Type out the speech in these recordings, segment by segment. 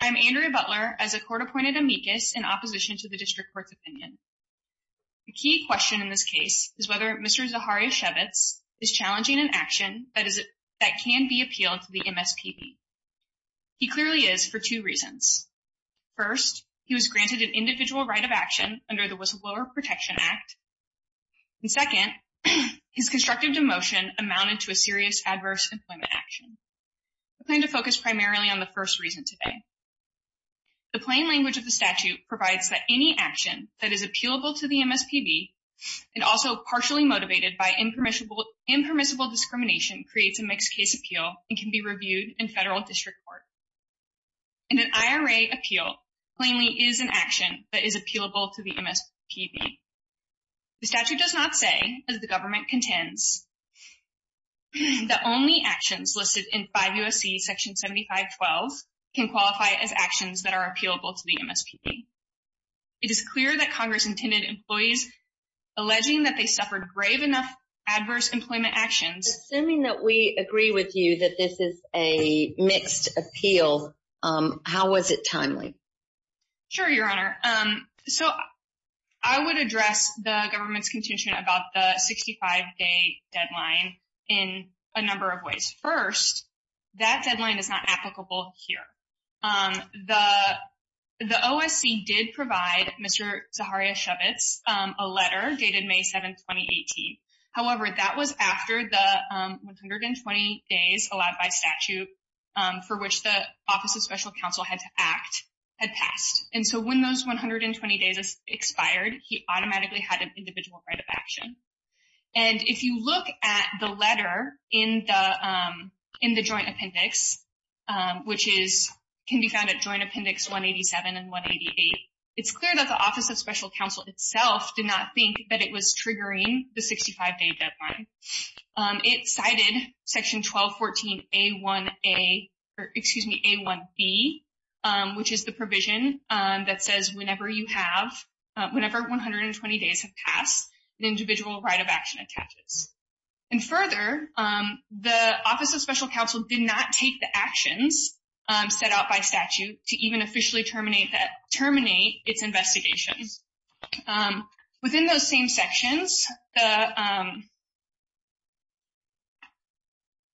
I am Andrea Butler, as a court-appointed amicus in opposition to the District Court's opinion. The key question in this case is whether Mr. Zachariasiewicz is challenging an action that can be appealed to the MSPB. He clearly is, for two reasons. First, he was granted an individual right of action under the Whistleblower Protection Act. And second, his constructive demotion amounted to a serious adverse employment action. I plan to focus primarily on the first reason today. The plain language of the statute provides that any action that is appealable to the MSPB and also partially motivated by impermissible discrimination creates a mixed-case appeal and can be reviewed in federal district court. In an IRA appeal, plainly is an action that is appealable to the MSPB. The statute does not say, as the government contends, that only actions listed in 5 U.S.C. section 7512 can qualify as actions that are appealable to the MSPB. It is clear that Congress intended employees alleging that they suffered brave enough adverse employment actions. Assuming that we agree with you that this is a mixed appeal, how was it timely? Sure, Your Honor. So, I would address the government's contention about the 65-day deadline in a number of ways. First, that deadline is not applicable here. The OSC did provide Mr. Zaharia Shabitz a letter dated May 7, 2018. However, that was after the 120 days allowed by statute for which the Office of Special Counsel had to act had passed. And so when those 120 days expired, he automatically had an individual right of action. And if you look at the letter in the joint appendix, which can be found at Joint Appendix 187 and 188, it's clear that the Office of Special Counsel itself did not think that it was triggering the 65-day deadline. It cited Section 1214 A1B, which is the provision that says whenever you have, whenever 120 days have passed, an individual right of action attaches. And further, the Office of Special Counsel did not take the actions set out by statute to even officially terminate its investigations. Within those same sections,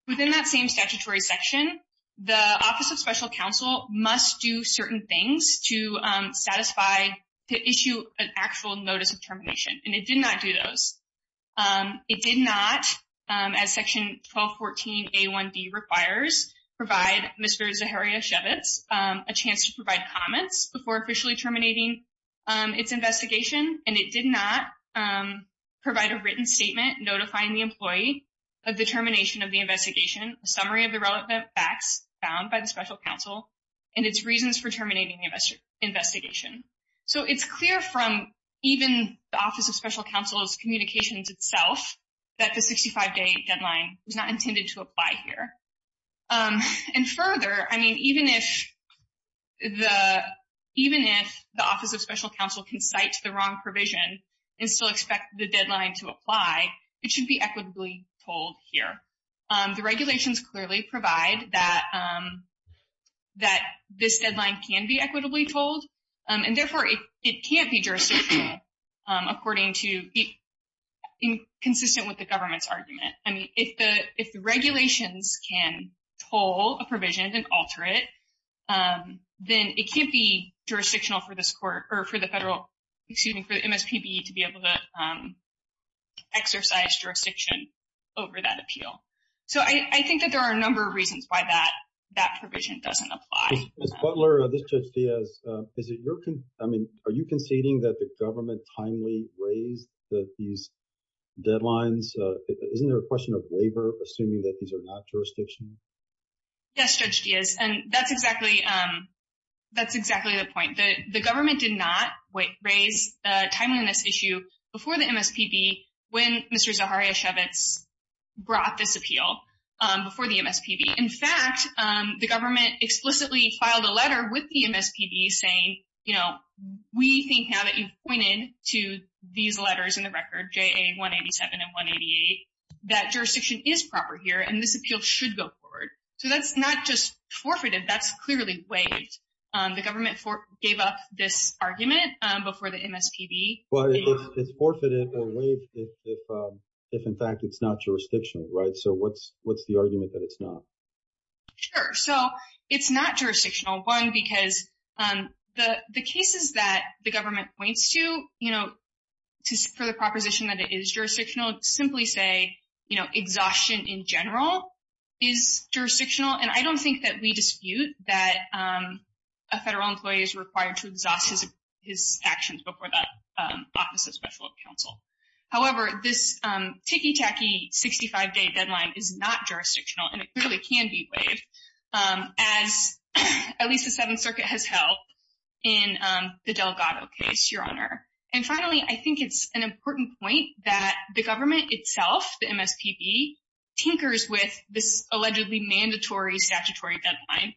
within that same statutory section, the Office of Special Counsel must do certain things to satisfy, to issue an actual notice of termination, and it did not do those. It did not, as Section 1214 A1B requires, provide Mr. Zaharia Shabitz a chance to provide comments before officially terminating its investigation. And it did not provide a written statement notifying the employee of the termination of the investigation, a summary of the relevant facts found by the Special Counsel, and its reasons for terminating the investigation. So it's clear from even the Office of Special Counsel's communications itself that the 65-day deadline was not intended to apply here. And further, I mean, even if the Office of Special Counsel can cite the wrong provision and still expect the deadline to apply, it should be equitably told here. The regulations clearly provide that this deadline can be equitably told. And therefore, it can't be jurisdictional according to, consistent with the government's argument. I mean, if the regulations can pull a provision and alter it, then it can't be jurisdictional for this court or for the federal, excuse me, for the MSPB to be able to exercise jurisdiction over that appeal. So I think that there are a number of reasons why that provision doesn't apply. Ms. Butler, this is Judge Diaz. I mean, are you conceding that the government timely raised these deadlines? Isn't there a question of waiver, assuming that these are not jurisdictional? Yes, Judge Diaz, and that's exactly the point. The government did not raise a timeliness issue before the MSPB when Mr. Zaharia Shevitz brought this appeal before the MSPB. In fact, the government explicitly filed a letter with the MSPB saying, you know, we think now that you've pointed to these letters in the record, JA 187 and 188, that jurisdiction is proper here and this appeal should go forward. So that's not just forfeited, that's clearly waived. The government gave up this argument before the MSPB. But it's forfeited or waived if, in fact, it's not jurisdictional, right? So what's the argument that it's not? Sure. So it's not jurisdictional, one, because the cases that the government points to, you know, for the proposition that it is jurisdictional, simply say, you know, exhaustion in general is jurisdictional. And I don't think that we dispute that a federal employee is required to exhaust his actions before the Office of Special Counsel. However, this ticky-tacky 65-day deadline is not jurisdictional and it clearly can be waived, as at least the Seventh Circuit has held in the Delgado case, Your Honor. And finally, I think it's an important point that the government itself, the MSPB, tinkers with this allegedly mandatory statutory deadline.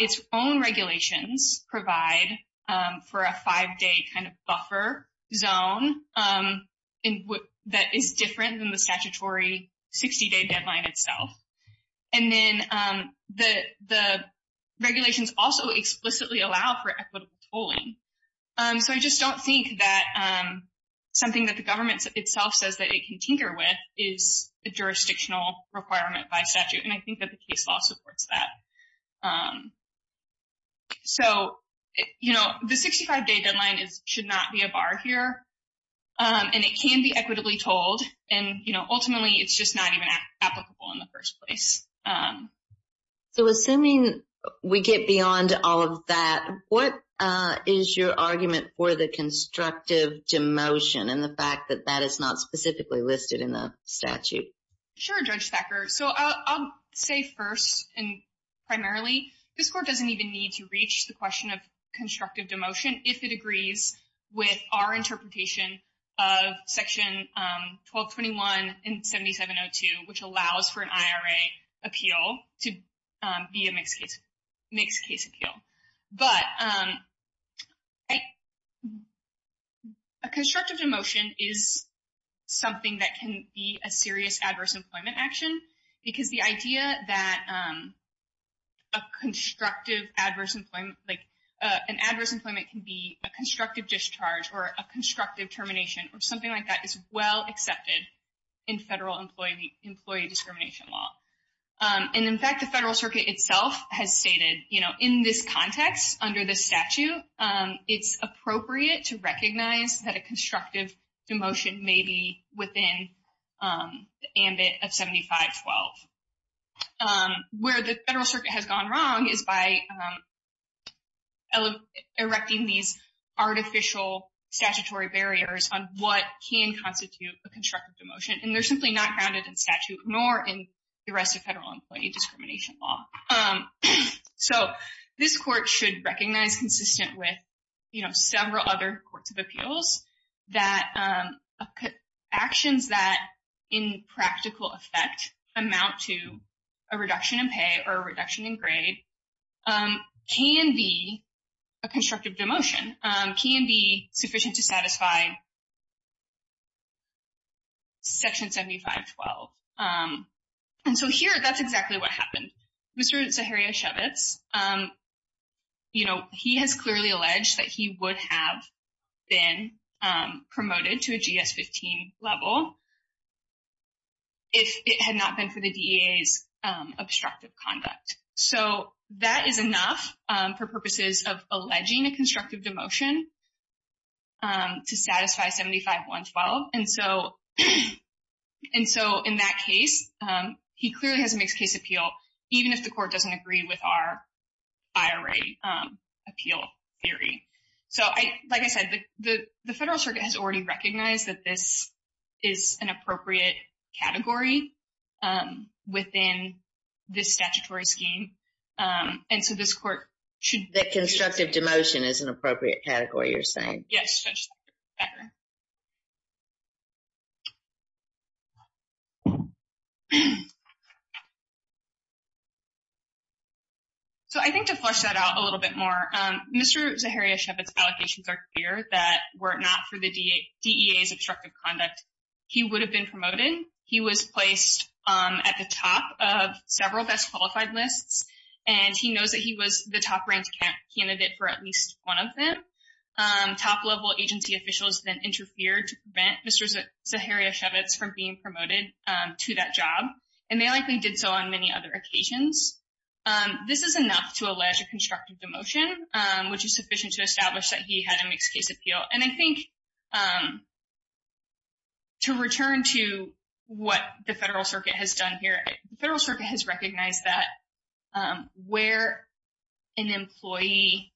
Its own regulations provide for a five-day kind of buffer zone that is different than the statutory 60-day deadline itself. And then the regulations also explicitly allow for equitable tolling. So I just don't think that something that the government itself says that it can tinker with is a jurisdictional requirement by statute. And I think that the case law supports that. So, you know, the 65-day deadline should not be a bar here. And it can be equitably tolled. And, you know, ultimately, it's just not even applicable in the first place. So assuming we get beyond all of that, what is your argument for the constructive demotion and the fact that that is not specifically listed in the statute? Sure, Judge Thacker. So I'll say first and primarily, this court doesn't even need to reach the question of constructive demotion if it agrees with our interpretation of Section 1221 and 7702, which allows for an IRA appeal to be a mixed-case appeal. But a constructive demotion is something that can be a serious adverse employment action, because the idea that an adverse employment can be a constructive discharge or a constructive termination or something like that is well accepted in federal employee discrimination law. And, in fact, the Federal Circuit itself has stated, you know, in this context, under this statute, it's appropriate to recognize that a constructive demotion may be within the ambit of 7512. Where the Federal Circuit has gone wrong is by erecting these artificial statutory barriers on what can constitute a constructive demotion. And they're simply not grounded in statute nor in the rest of federal employee discrimination law. So this court should recognize, consistent with several other courts of appeals, that actions that in practical effect amount to a reduction in pay or a reduction in grade can be a constructive demotion, can be sufficient to satisfy Section 7512. And so here, that's exactly what happened. Mr. Zaharia Shevitz, you know, he has clearly alleged that he would have been promoted to a GS-15 level if it had not been for the DEA's obstructive conduct. So that is enough for purposes of alleging a constructive demotion to satisfy 7512. And so in that case, he clearly has a mixed-case appeal, even if the court doesn't agree with our IRA appeal theory. So like I said, the Federal Circuit has already recognized that this is an appropriate category within this statutory scheme. And so this court should... That constructive demotion is an appropriate category, you're saying? Yes. So I think to flesh that out a little bit more, Mr. Zaharia Shevitz's allegations are clear that were it not for the DEA's obstructive conduct, he would have been promoted. He was placed at the top of several best-qualified lists, and he knows that he was the top-ranked candidate for at least one of them. Top-level agency officials then interfered to prevent Mr. Zaharia Shevitz from being promoted to that job, and they likely did so on many other occasions. This is enough to allege a constructive demotion, which is sufficient to establish that he had a mixed-case appeal. And I think to return to what the Federal Circuit has done here, the Federal Circuit has recognized that where an employee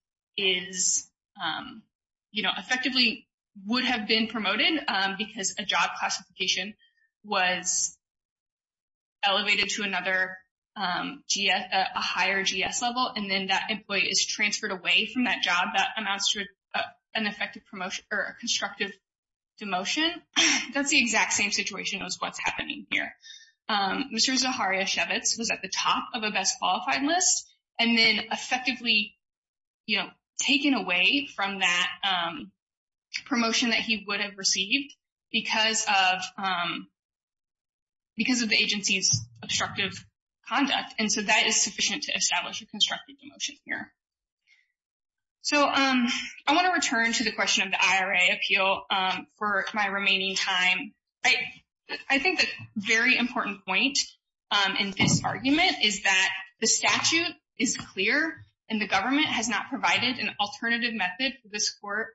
effectively would have been promoted because a job classification was elevated to another GS, a higher GS level, and then that employee is transferred away from that job, that amounts to an effective promotion or a constructive demotion. That's the exact same situation as what's happening here. Mr. Zaharia Shevitz was at the top of a best-qualified list and then effectively taken away from that promotion that he would have received because of the agency's obstructive conduct. And so that is sufficient to establish a constructive demotion here. So I want to return to the question of the IRA appeal for my remaining time. I think the very important point in this argument is that the statute is clear, and the government has not provided an alternative method for this court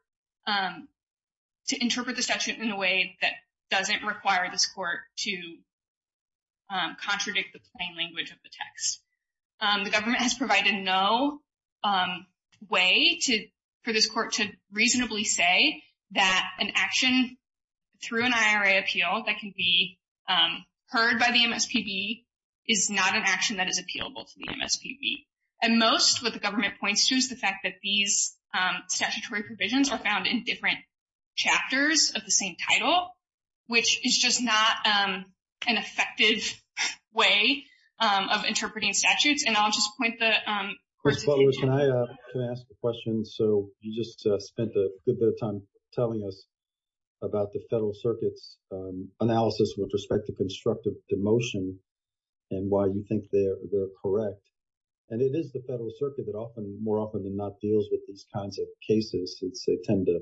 to interpret the statute in a way that doesn't require this court to contradict the plain language of the text. The government has provided no way for this court to reasonably say that an action through an IRA appeal that can be heard by the MSPB is not an action that is appealable to the MSPB. And most of what the government points to is the fact that these statutory provisions are found in different chapters of the same title, which is just not an effective way of interpreting statutes. And I'll just point the— Mr. Lewis, can I ask a question? So you just spent a good bit of time telling us about the Federal Circuit's analysis with respect to constructive demotion and why you think they're correct. And it is the Federal Circuit that often, more often than not, deals with these kinds of cases since they tend to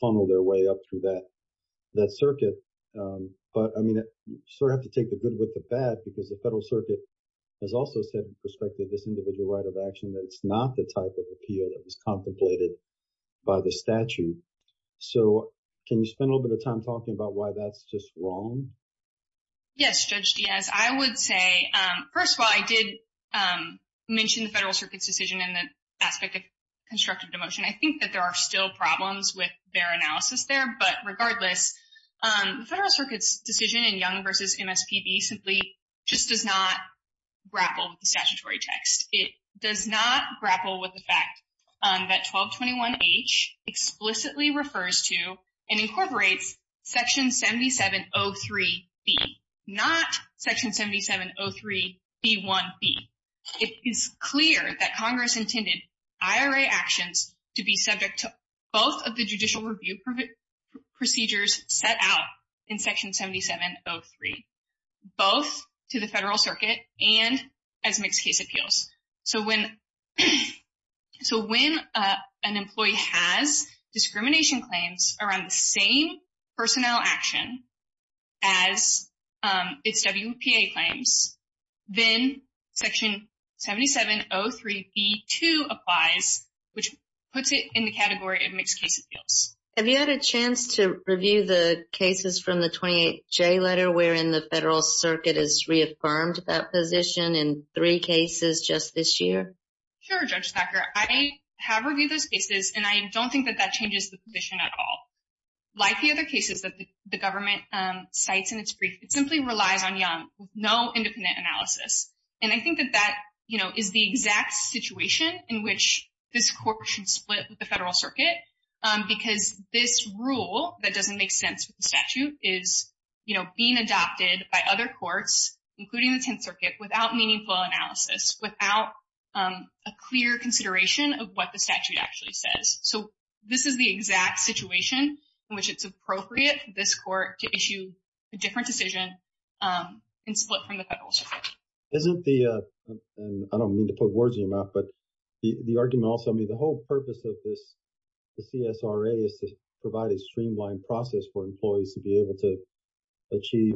funnel their way up through that circuit. But, I mean, you sort of have to take the good with the bad because the Federal Circuit has also said with respect to this individual right of action that it's not the type of appeal that was contemplated by the statute. So can you spend a little bit of time talking about why that's just wrong? Yes, Judge Diaz. I would say, first of all, I did mention the Federal Circuit's decision in the aspect of constructive demotion. I think that there are still problems with their analysis there. But regardless, the Federal Circuit's decision in Young v. MSPB simply just does not grapple with the statutory text. It does not grapple with the fact that 1221H explicitly refers to and incorporates Section 7703B, not Section 7703B1B. It is clear that Congress intended IRA actions to be subject to both of the judicial review procedures set out in Section 7703, both to the Federal Circuit and as mixed case appeals. So when an employee has discrimination claims around the same personnel action as its WPA claims, then Section 7703B2 applies, which puts it in the category of mixed case appeals. Have you had a chance to review the cases from the 28J letter wherein the Federal Circuit has reaffirmed that position in three cases just this year? Sure, Judge Thacker. I have reviewed those cases, and I don't think that that changes the position at all. Like the other cases that the government cites in its brief, it simply relies on Young with no independent analysis. And I think that that is the exact situation in which this Court should split with the Federal Circuit because this rule that doesn't make sense with the statute is being adopted by other courts, including the Tenth Circuit, without meaningful analysis, without a clear consideration of what the statute actually says. So this is the exact situation in which it's appropriate for this Court to issue a different decision and split from the Federal Circuit. Isn't the, and I don't mean to put words in your mouth, but the argument also, I mean, the whole purpose of this, the CSRA is to provide a streamlined process for employees to be able to achieve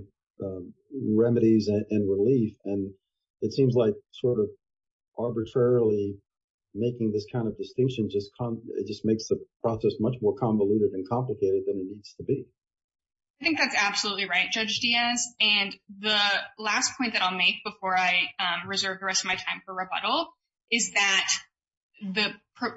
remedies and relief. And it seems like sort of arbitrarily making this kind of distinction just makes the process much more convoluted and complicated than it needs to be. I think that's absolutely right, Judge Diaz. And the last point that I'll make before I reserve the rest of my time for rebuttal is that the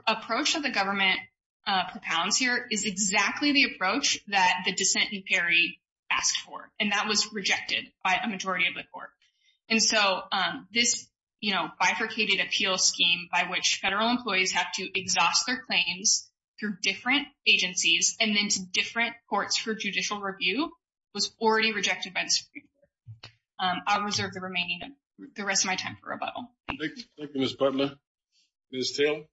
approach that the government propounds here is exactly the approach that the dissent in Perry asked for, and that was rejected by a majority of the Court. And so this, you know, bifurcated appeal scheme by which Federal employees have to exhaust their claims through different agencies and then to different courts for judicial review was already rejected by the Supreme Court. I'll reserve the remaining, the rest of my time for rebuttal. Thank you, Ms. Butler. Ms. Taylor? Good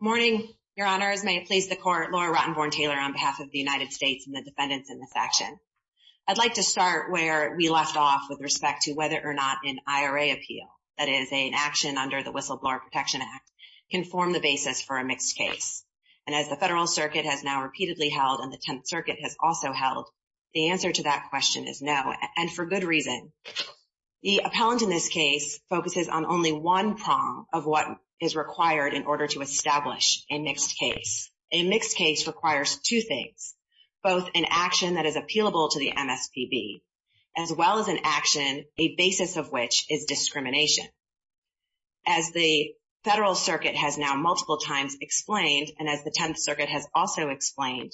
morning. Good morning, Your Honors. May it please the Court, Laura Rottenborn Taylor on behalf of the United States and the defendants in this action. I'd like to start where we left off with respect to whether or not an IRA appeal, that is an action under the Whistleblower Protection Act, can form the basis for a mixed case. And as the Federal Circuit has now repeatedly held and the Tenth Circuit has also held, the answer to that question is no, and for good reason. The appellant in this case focuses on only one prong of what is required in order to establish a mixed case. A mixed case requires two things, both an action that is appealable to the MSPB, as well as an action, a basis of which is discrimination. As the Federal Circuit has now multiple times explained, and as the Tenth Circuit has also explained,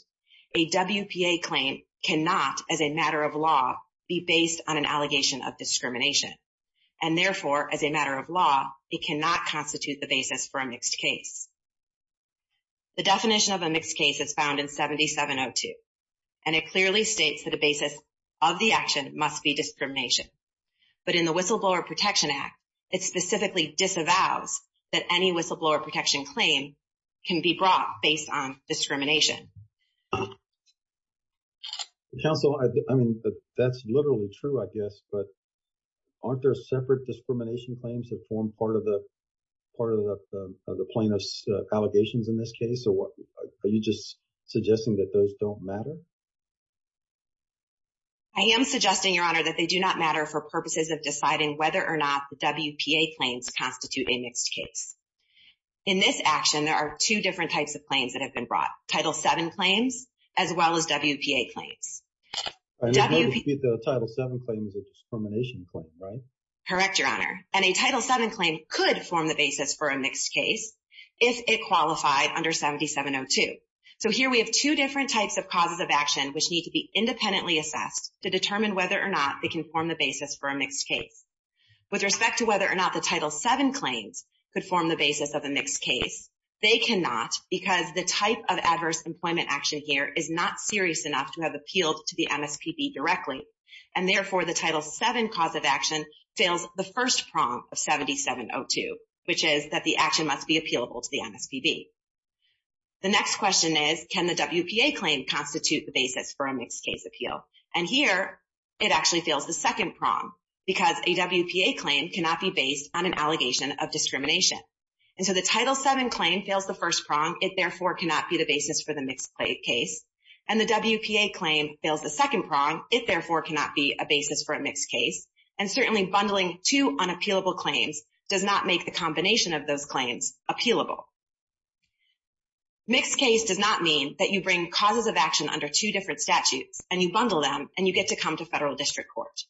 a WPA claim cannot, as a matter of law, be based on an allegation of discrimination. And therefore, as a matter of law, it cannot constitute the basis for a mixed case. The definition of a mixed case is found in 7702, and it clearly states that the basis of the action must be discrimination. But in the Whistleblower Protection Act, it specifically disavows that any whistleblower protection claim can be brought based on discrimination. Counsel, I mean, that's literally true, I guess, but aren't there separate discrimination claims that form part of the plaintiff's allegations in this case? Are you just suggesting that those don't matter? I am suggesting, Your Honor, that they do not matter for purposes of deciding whether or not the WPA claims constitute a mixed case. In this action, there are two different types of claims that have been brought, Title VII claims as well as WPA claims. Title VII claim is a discrimination claim, right? Correct, Your Honor. And a Title VII claim could form the basis for a mixed case if it qualified under 7702. So here we have two different types of causes of action which need to be independently assessed to determine whether or not they can form the basis for a mixed case. With respect to whether or not the Title VII claims could form the basis of a mixed case, they cannot because the type of adverse employment action here is not serious enough to have appealed to the MSPB directly. And therefore, the Title VII cause of action fails the first prong of 7702, which is that the action must be appealable to the MSPB. The next question is, can the WPA claim constitute the basis for a mixed case appeal? And here, it actually fails the second prong because a WPA claim cannot be based on an allegation of discrimination. And so the Title VII claim fails the first prong. It, therefore, cannot be the basis for the mixed case. And the WPA claim fails the second prong. It, therefore, cannot be a basis for a mixed case. And certainly, bundling two unappealable claims does not make the combination of those claims appealable. Mixed case does not mean that you bring causes of action under two different statutes and you bundle them and you get to come to federal district court.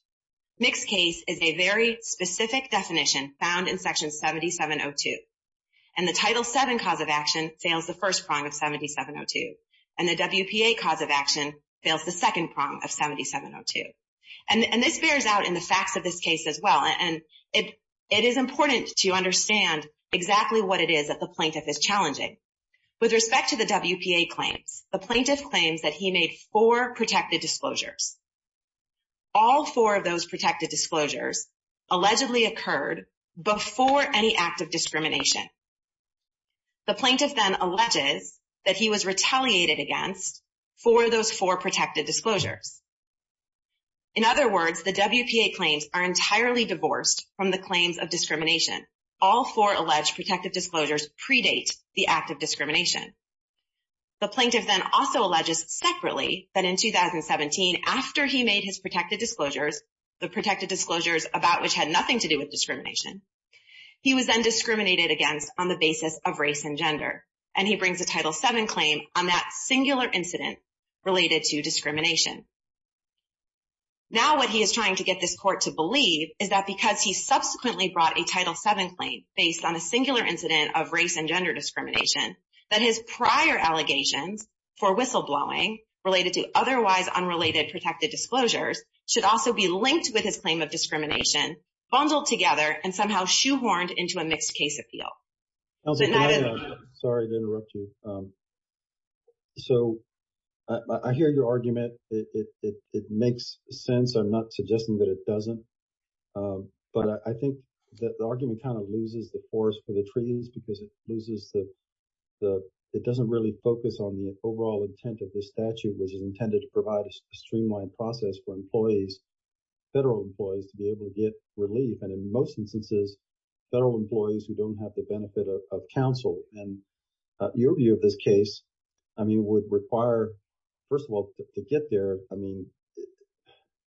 Mixed case is a very specific definition found in Section 7702. And the Title VII cause of action fails the first prong of 7702. And the WPA cause of action fails the second prong of 7702. And this bears out in the facts of this case as well. And it is important to understand exactly what it is that the plaintiff is challenging. With respect to the WPA claims, the plaintiff claims that he made four protected disclosures. All four of those protected disclosures allegedly occurred before any act of discrimination. The plaintiff then alleges that he was retaliated against for those four protected disclosures. In other words, the WPA claims are entirely divorced from the claims of discrimination. All four alleged protected disclosures predate the act of discrimination. The plaintiff then also alleges separately that in 2017, after he made his protected disclosures, the protected disclosures about which had nothing to do with discrimination, he was then discriminated against on the basis of race and gender. And he brings a Title VII claim on that singular incident related to discrimination. Now what he is trying to get this court to believe is that because he subsequently brought a Title VII claim based on a singular incident of race and gender discrimination, that his prior allegations for whistleblowing related to otherwise unrelated protected disclosures should also be linked with his claim of discrimination, bundled together and somehow shoehorned into a mixed case appeal. Sorry to interrupt you. So I hear your argument. It makes sense. I'm not suggesting that it doesn't. But I think that the argument kind of loses the forest for the trees because it loses the – it doesn't really focus on the overall intent of this statute, which is intended to provide a streamlined process for employees, federal employees, to be able to get relief. And in most instances, federal employees who don't have the benefit of counsel. And your view of this case, I mean, would require, first of all, to get there, I mean,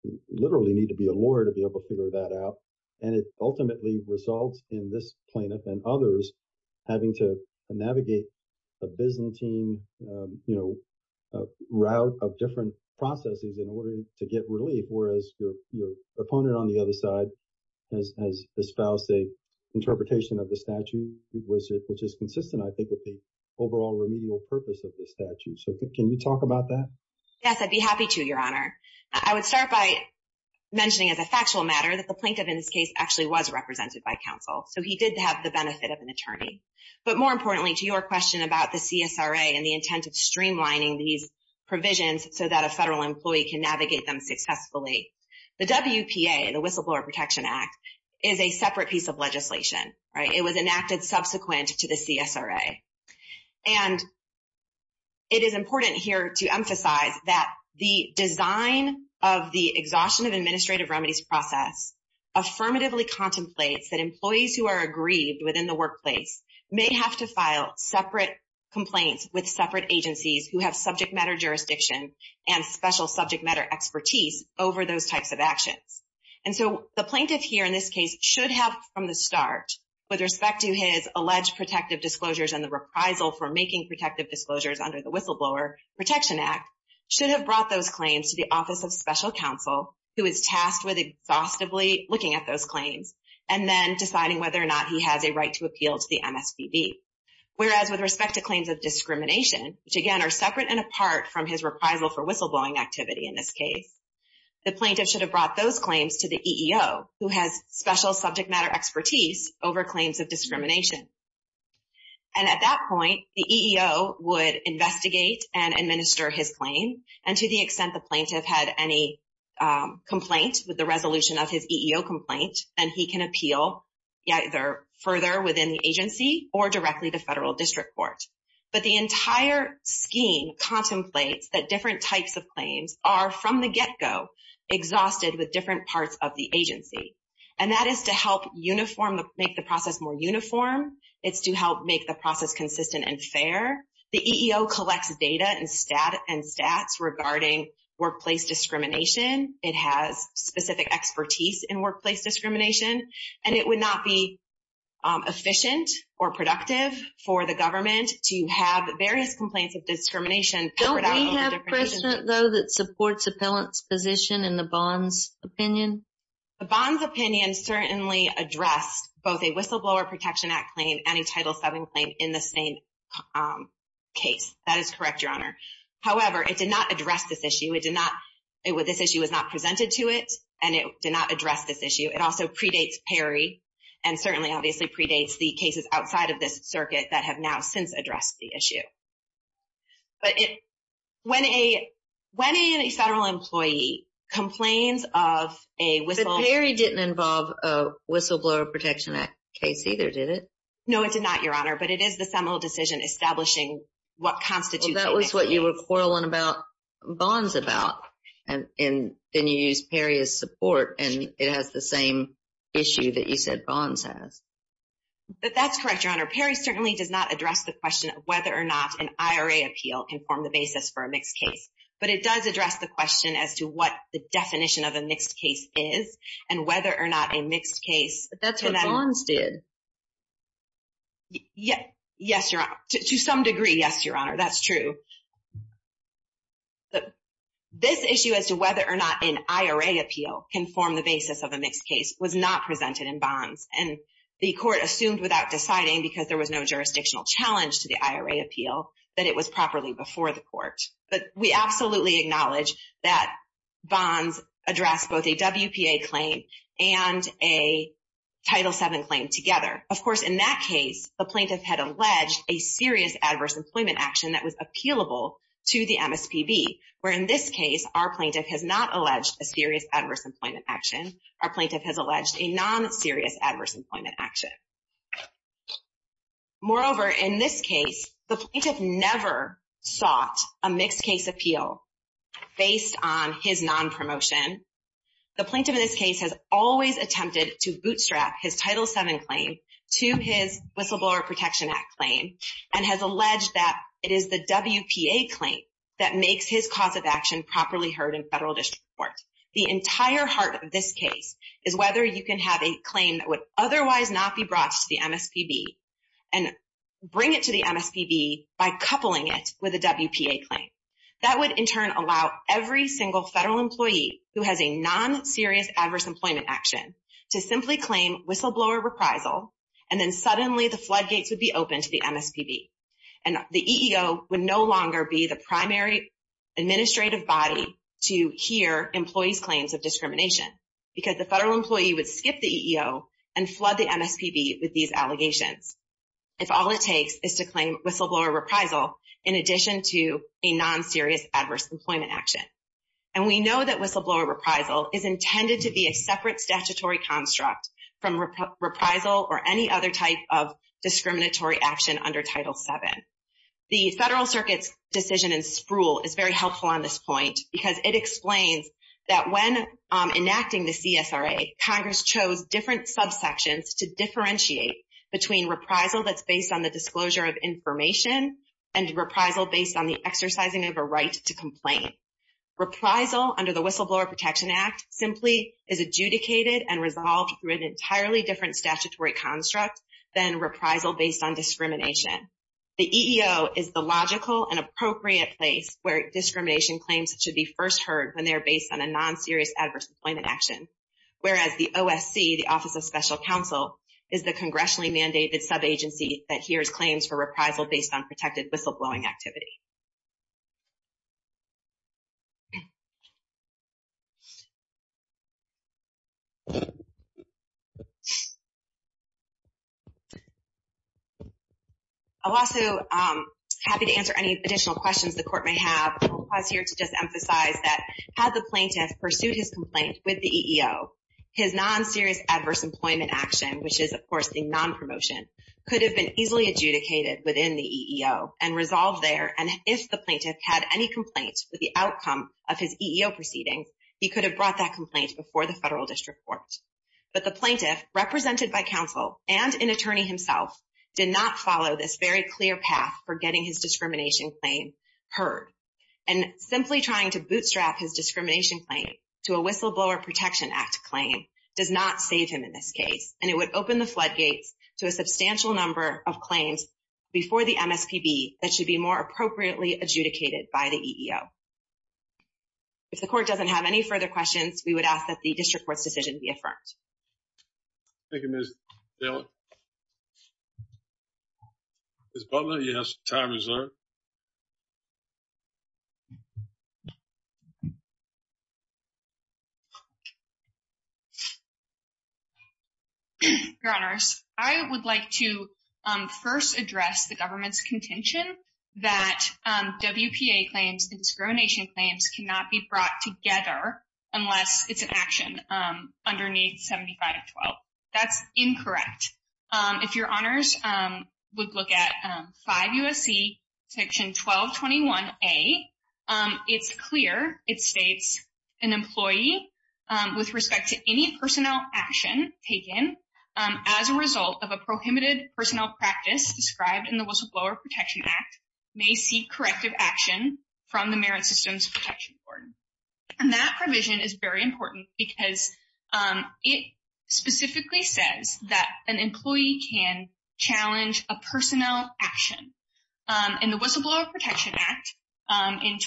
you literally need to be a lawyer to be able to figure that out. And it ultimately results in this plaintiff and others having to navigate a Byzantine route of different processes in order to get relief, whereas your opponent on the other side has espoused the interpretation of the statute, which is consistent, I think, with the overall remedial purpose of the statute. So can you talk about that? Yes, I'd be happy to, Your Honor. I would start by mentioning as a factual matter that the plaintiff in this case actually was represented by counsel. So he did have the benefit of an attorney. But more importantly, to your question about the CSRA and the intent of streamlining these provisions so that a federal employee can navigate them successfully, the WPA, the Whistleblower Protection Act, is a separate piece of legislation. It was enacted subsequent to the CSRA. And it is important here to emphasize that the design of the exhaustion of administrative remedies process affirmatively contemplates that employees who are aggrieved within the workplace may have to file separate complaints with separate agencies who have subject matter jurisdiction and special subject matter expertise over those types of actions. And so the plaintiff here in this case should have from the start, with respect to his alleged protective disclosures and the reprisal for making protective disclosures under the Whistleblower Protection Act, should have brought those claims to the Office of Special Counsel, who is tasked with exhaustively looking at those claims and then deciding whether or not he has a right to appeal to the MSPB. Whereas with respect to claims of discrimination, which, again, are separate and apart from his reprisal for whistleblowing activity in this case, the plaintiff should have brought those claims to the EEO, who has special subject matter expertise over claims of discrimination. And at that point, the EEO would investigate and administer his claim. And to the extent the plaintiff had any complaint with the resolution of his EEO complaint, then he can appeal either further within the agency or directly to federal district court. But the entire scheme contemplates that different types of claims are, from the get-go, exhausted with different parts of the agency. And that is to help make the process more uniform. It's to help make the process consistent and fair. The EEO collects data and stats regarding workplace discrimination. It has specific expertise in workplace discrimination. And it would not be efficient or productive for the government to have various complaints of discrimination. Don't we have precedent, though, that supports appellant's position in the bond's opinion? The bond's opinion certainly addressed both a Whistleblower Protection Act claim and a Title VII claim in the same case. That is correct, Your Honor. However, it did not address this issue. This issue was not presented to it, and it did not address this issue. It also predates PERI and certainly, obviously, predates the cases outside of this circuit that have now since addressed the issue. But when a federal employee complains of a whistle… But PERI didn't involve a Whistleblower Protection Act case either, did it? No, it did not, Your Honor, but it is the seminal decision establishing what constitutes… That was what you were quarreling about bonds about, and then you used PERI as support, and it has the same issue that you said bonds has. That's correct, Your Honor. PERI certainly does not address the question of whether or not an IRA appeal can form the basis for a mixed case. But it does address the question as to what the definition of a mixed case is and whether or not a mixed case… But that's what bonds did. Yes, Your Honor. To some degree, yes, Your Honor. That's true. This issue as to whether or not an IRA appeal can form the basis of a mixed case was not presented in bonds, and the court assumed without deciding because there was no jurisdictional challenge to the IRA appeal that it was properly before the court. But we absolutely acknowledge that bonds address both a WPA claim and a Title VII claim together. Of course, in that case, the plaintiff had alleged a serious adverse employment action that was appealable to the MSPB, where in this case, our plaintiff has not alleged a serious adverse employment action. Our plaintiff has alleged a non-serious adverse employment action. Moreover, in this case, the plaintiff never sought a mixed case appeal based on his non-promotion. The plaintiff in this case has always attempted to bootstrap his Title VII claim to his Whistleblower Protection Act claim and has alleged that it is the WPA claim that makes his cause of action properly heard in federal district court. The entire heart of this case is whether you can have a claim that would otherwise not be brought to the MSPB and bring it to the MSPB by coupling it with a WPA claim. That would in turn allow every single federal employee who has a non-serious adverse employment action to simply claim whistleblower reprisal, and then suddenly the floodgates would be open to the MSPB. And the EEO would no longer be the primary administrative body to hear employees' claims of discrimination because the federal employee would skip the EEO and flood the MSPB with these allegations if all it takes is to claim whistleblower reprisal in addition to a non-serious adverse employment action. And we know that whistleblower reprisal is intended to be a separate statutory construct from reprisal or any other type of discriminatory action under Title VII. The Federal Circuit's decision in Spruill is very helpful on this point because it explains that when enacting the CSRA, Congress chose different subsections to differentiate between reprisal that's based on the disclosure of information and reprisal based on the exercising of a right to complain. Reprisal under the Whistleblower Protection Act simply is adjudicated and resolved through an entirely different statutory construct than reprisal based on discrimination. The EEO is the logical and appropriate place where discrimination claims should be first heard when they're based on a non-serious adverse employment action. Whereas the OSC, the Office of Special Counsel, is the congressionally mandated subagency that hears claims for reprisal based on protected whistleblowing activity. I'm also happy to answer any additional questions the court may have. I'll pause here to just emphasize that had the plaintiff pursued his complaint with the EEO, his non-serious adverse employment action, which is, of course, the non-promotion, could have been easily adjudicated within the EEO and resolved there. And if the plaintiff had any complaints with the outcome of his EEO proceedings, he could have brought that complaint before the federal district court. But the plaintiff, represented by counsel and an attorney himself, did not follow this very clear path for getting his discrimination claim heard. And simply trying to bootstrap his discrimination claim to a Whistleblower Protection Act claim does not save him in this case. And it would open the floodgates to a substantial number of claims before the MSPB that should be more appropriately adjudicated by the EEO. If the court doesn't have any further questions, we would ask that the district court's decision be affirmed. Thank you, Ms. Taylor. Ms. Butler, you have some time reserved. Your Honors, I would like to first address the government's contention that WPA claims and discrimination claims cannot be brought together unless it's an action underneath 7512. That's incorrect. If your Honors would look at 5 U.S.C. section 1221A, it's clear, it states, an employee, with respect to any personnel action taken, as a result of a prohibited personnel practice described in the Whistleblower Protection Act, may seek corrective action from the Merit Systems Protection Board. And that provision is very important because it specifically says that an employee can challenge a personnel action. And the Whistleblower Protection Act in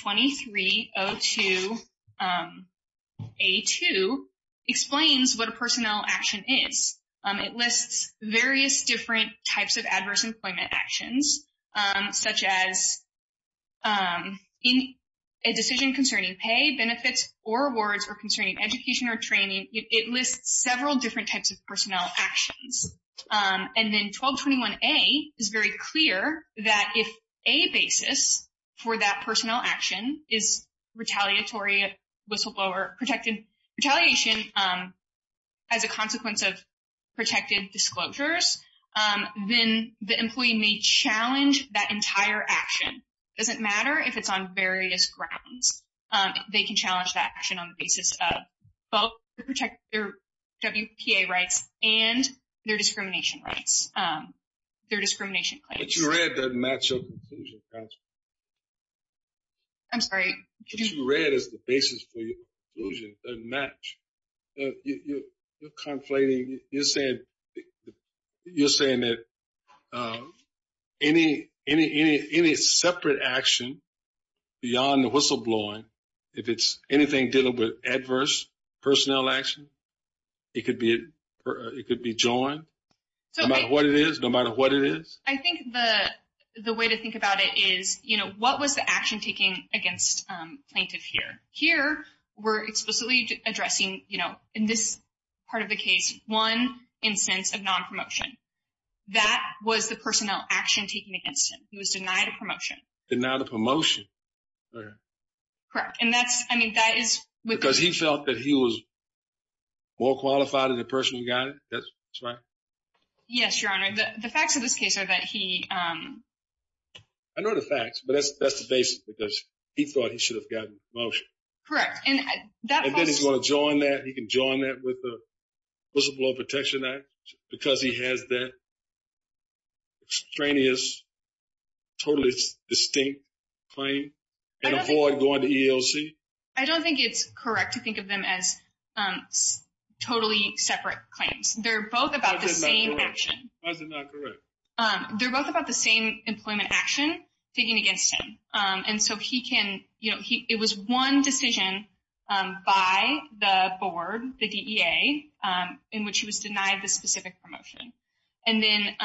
2302A.2 explains what a personnel action is. It lists various different types of adverse employment actions, such as a decision concerning pay, benefits, or awards, or concerning education or training. It lists several different types of personnel actions. And then 1221A is very clear that if a basis for that personnel action is retaliatory at whistleblower protection, retaliation as a consequence of protected disclosures, then the employee may challenge that entire action. It doesn't matter if it's on various grounds. They can challenge that action on the basis of both their WPA rights and their discrimination rights, their discrimination claims. What you read doesn't match your conclusion, Counselor. I'm sorry? What you read as the basis for your conclusion doesn't match. You're conflating. You're saying that any separate action beyond the whistleblowing, if it's anything dealing with adverse personnel action, it could be joined, no matter what it is, no matter what it is? I think the way to think about it is, you know, what was the action taking against plaintiff here? Here, we're explicitly addressing, you know, in this part of the case, one instance of nonpromotion. That was the personnel action taken against him. He was denied a promotion. Denied a promotion? Correct. And that's – I mean, that is – Because he felt that he was more qualified than the person who got it? That's right? Yes, Your Honor. The facts of this case are that he – I know the facts, but that's the basis, because he thought he should have gotten a promotion. Correct. And then he's going to join that? He can join that with the Whistleblowing Protection Act because he has that extraneous, totally distinct claim? And avoid going to ELC? I don't think it's correct to think of them as totally separate claims. They're both about the same action. Why is it not correct? They're both about the same employment action taken against him. And so he can – you know, it was one decision by the board, the DEA, in which he was denied the specific promotion. And then,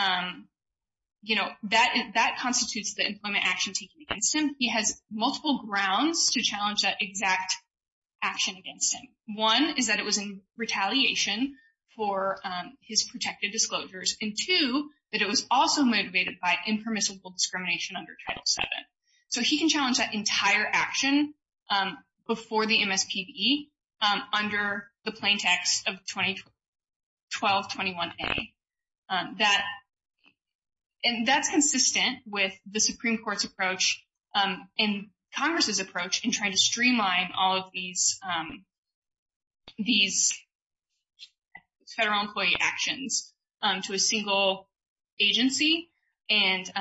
you know, that constitutes the employment action taken against him. He has multiple grounds to challenge that exact action against him. One is that it was in retaliation for his protected disclosures. And two, that it was also motivated by impermissible discrimination under Title VII. So he can challenge that entire action before the MSPB under the plain text of 2012-21A. And that's consistent with the Supreme Court's approach and Congress' approach in trying to streamline all of these federal employee actions to a single agency and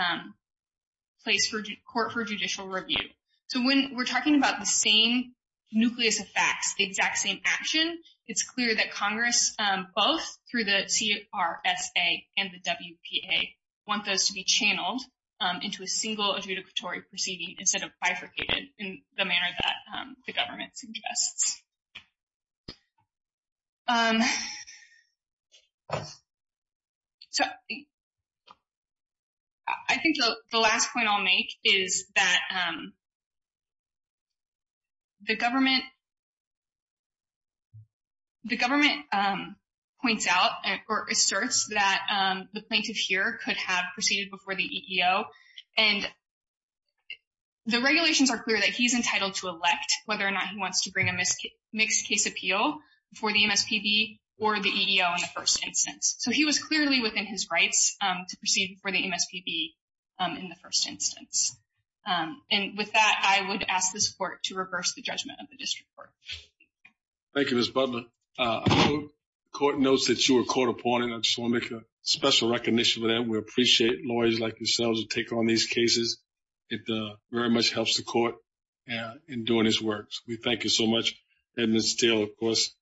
court for judicial review. So when we're talking about the same nucleus of facts, the exact same action, it's clear that Congress, both through the CRSA and the WPA, want those to be channeled into a single adjudicatory proceeding instead of bifurcated in the manner that the government suggests. So I think the last point I'll make is that the government points out or asserts that the plaintiff here could have proceeded before the EEO. And the regulations are clear that he's entitled to elect whether or not he wants to bring a mixed-case appeal before the MSPB or the EEO in the first instance. So he was clearly within his rights to proceed before the MSPB in the first instance. And with that, I would ask this court to reverse the judgment of the district court. Thank you, Ms. Butler. I know the court notes that you were caught upon, and I just want to make a special recognition of that. We appreciate lawyers like yourselves who take on these cases. It very much helps the court in doing its work. We thank you so much. And still, of course,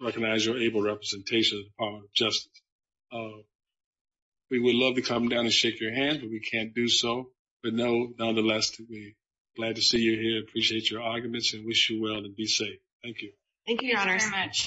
recognize your able representation of the Department of Justice. We would love to come down and shake your hand, but we can't do so. But nonetheless, we're glad to see you here, appreciate your arguments, and wish you well and be safe. Thank you. Thank you, Your Honor.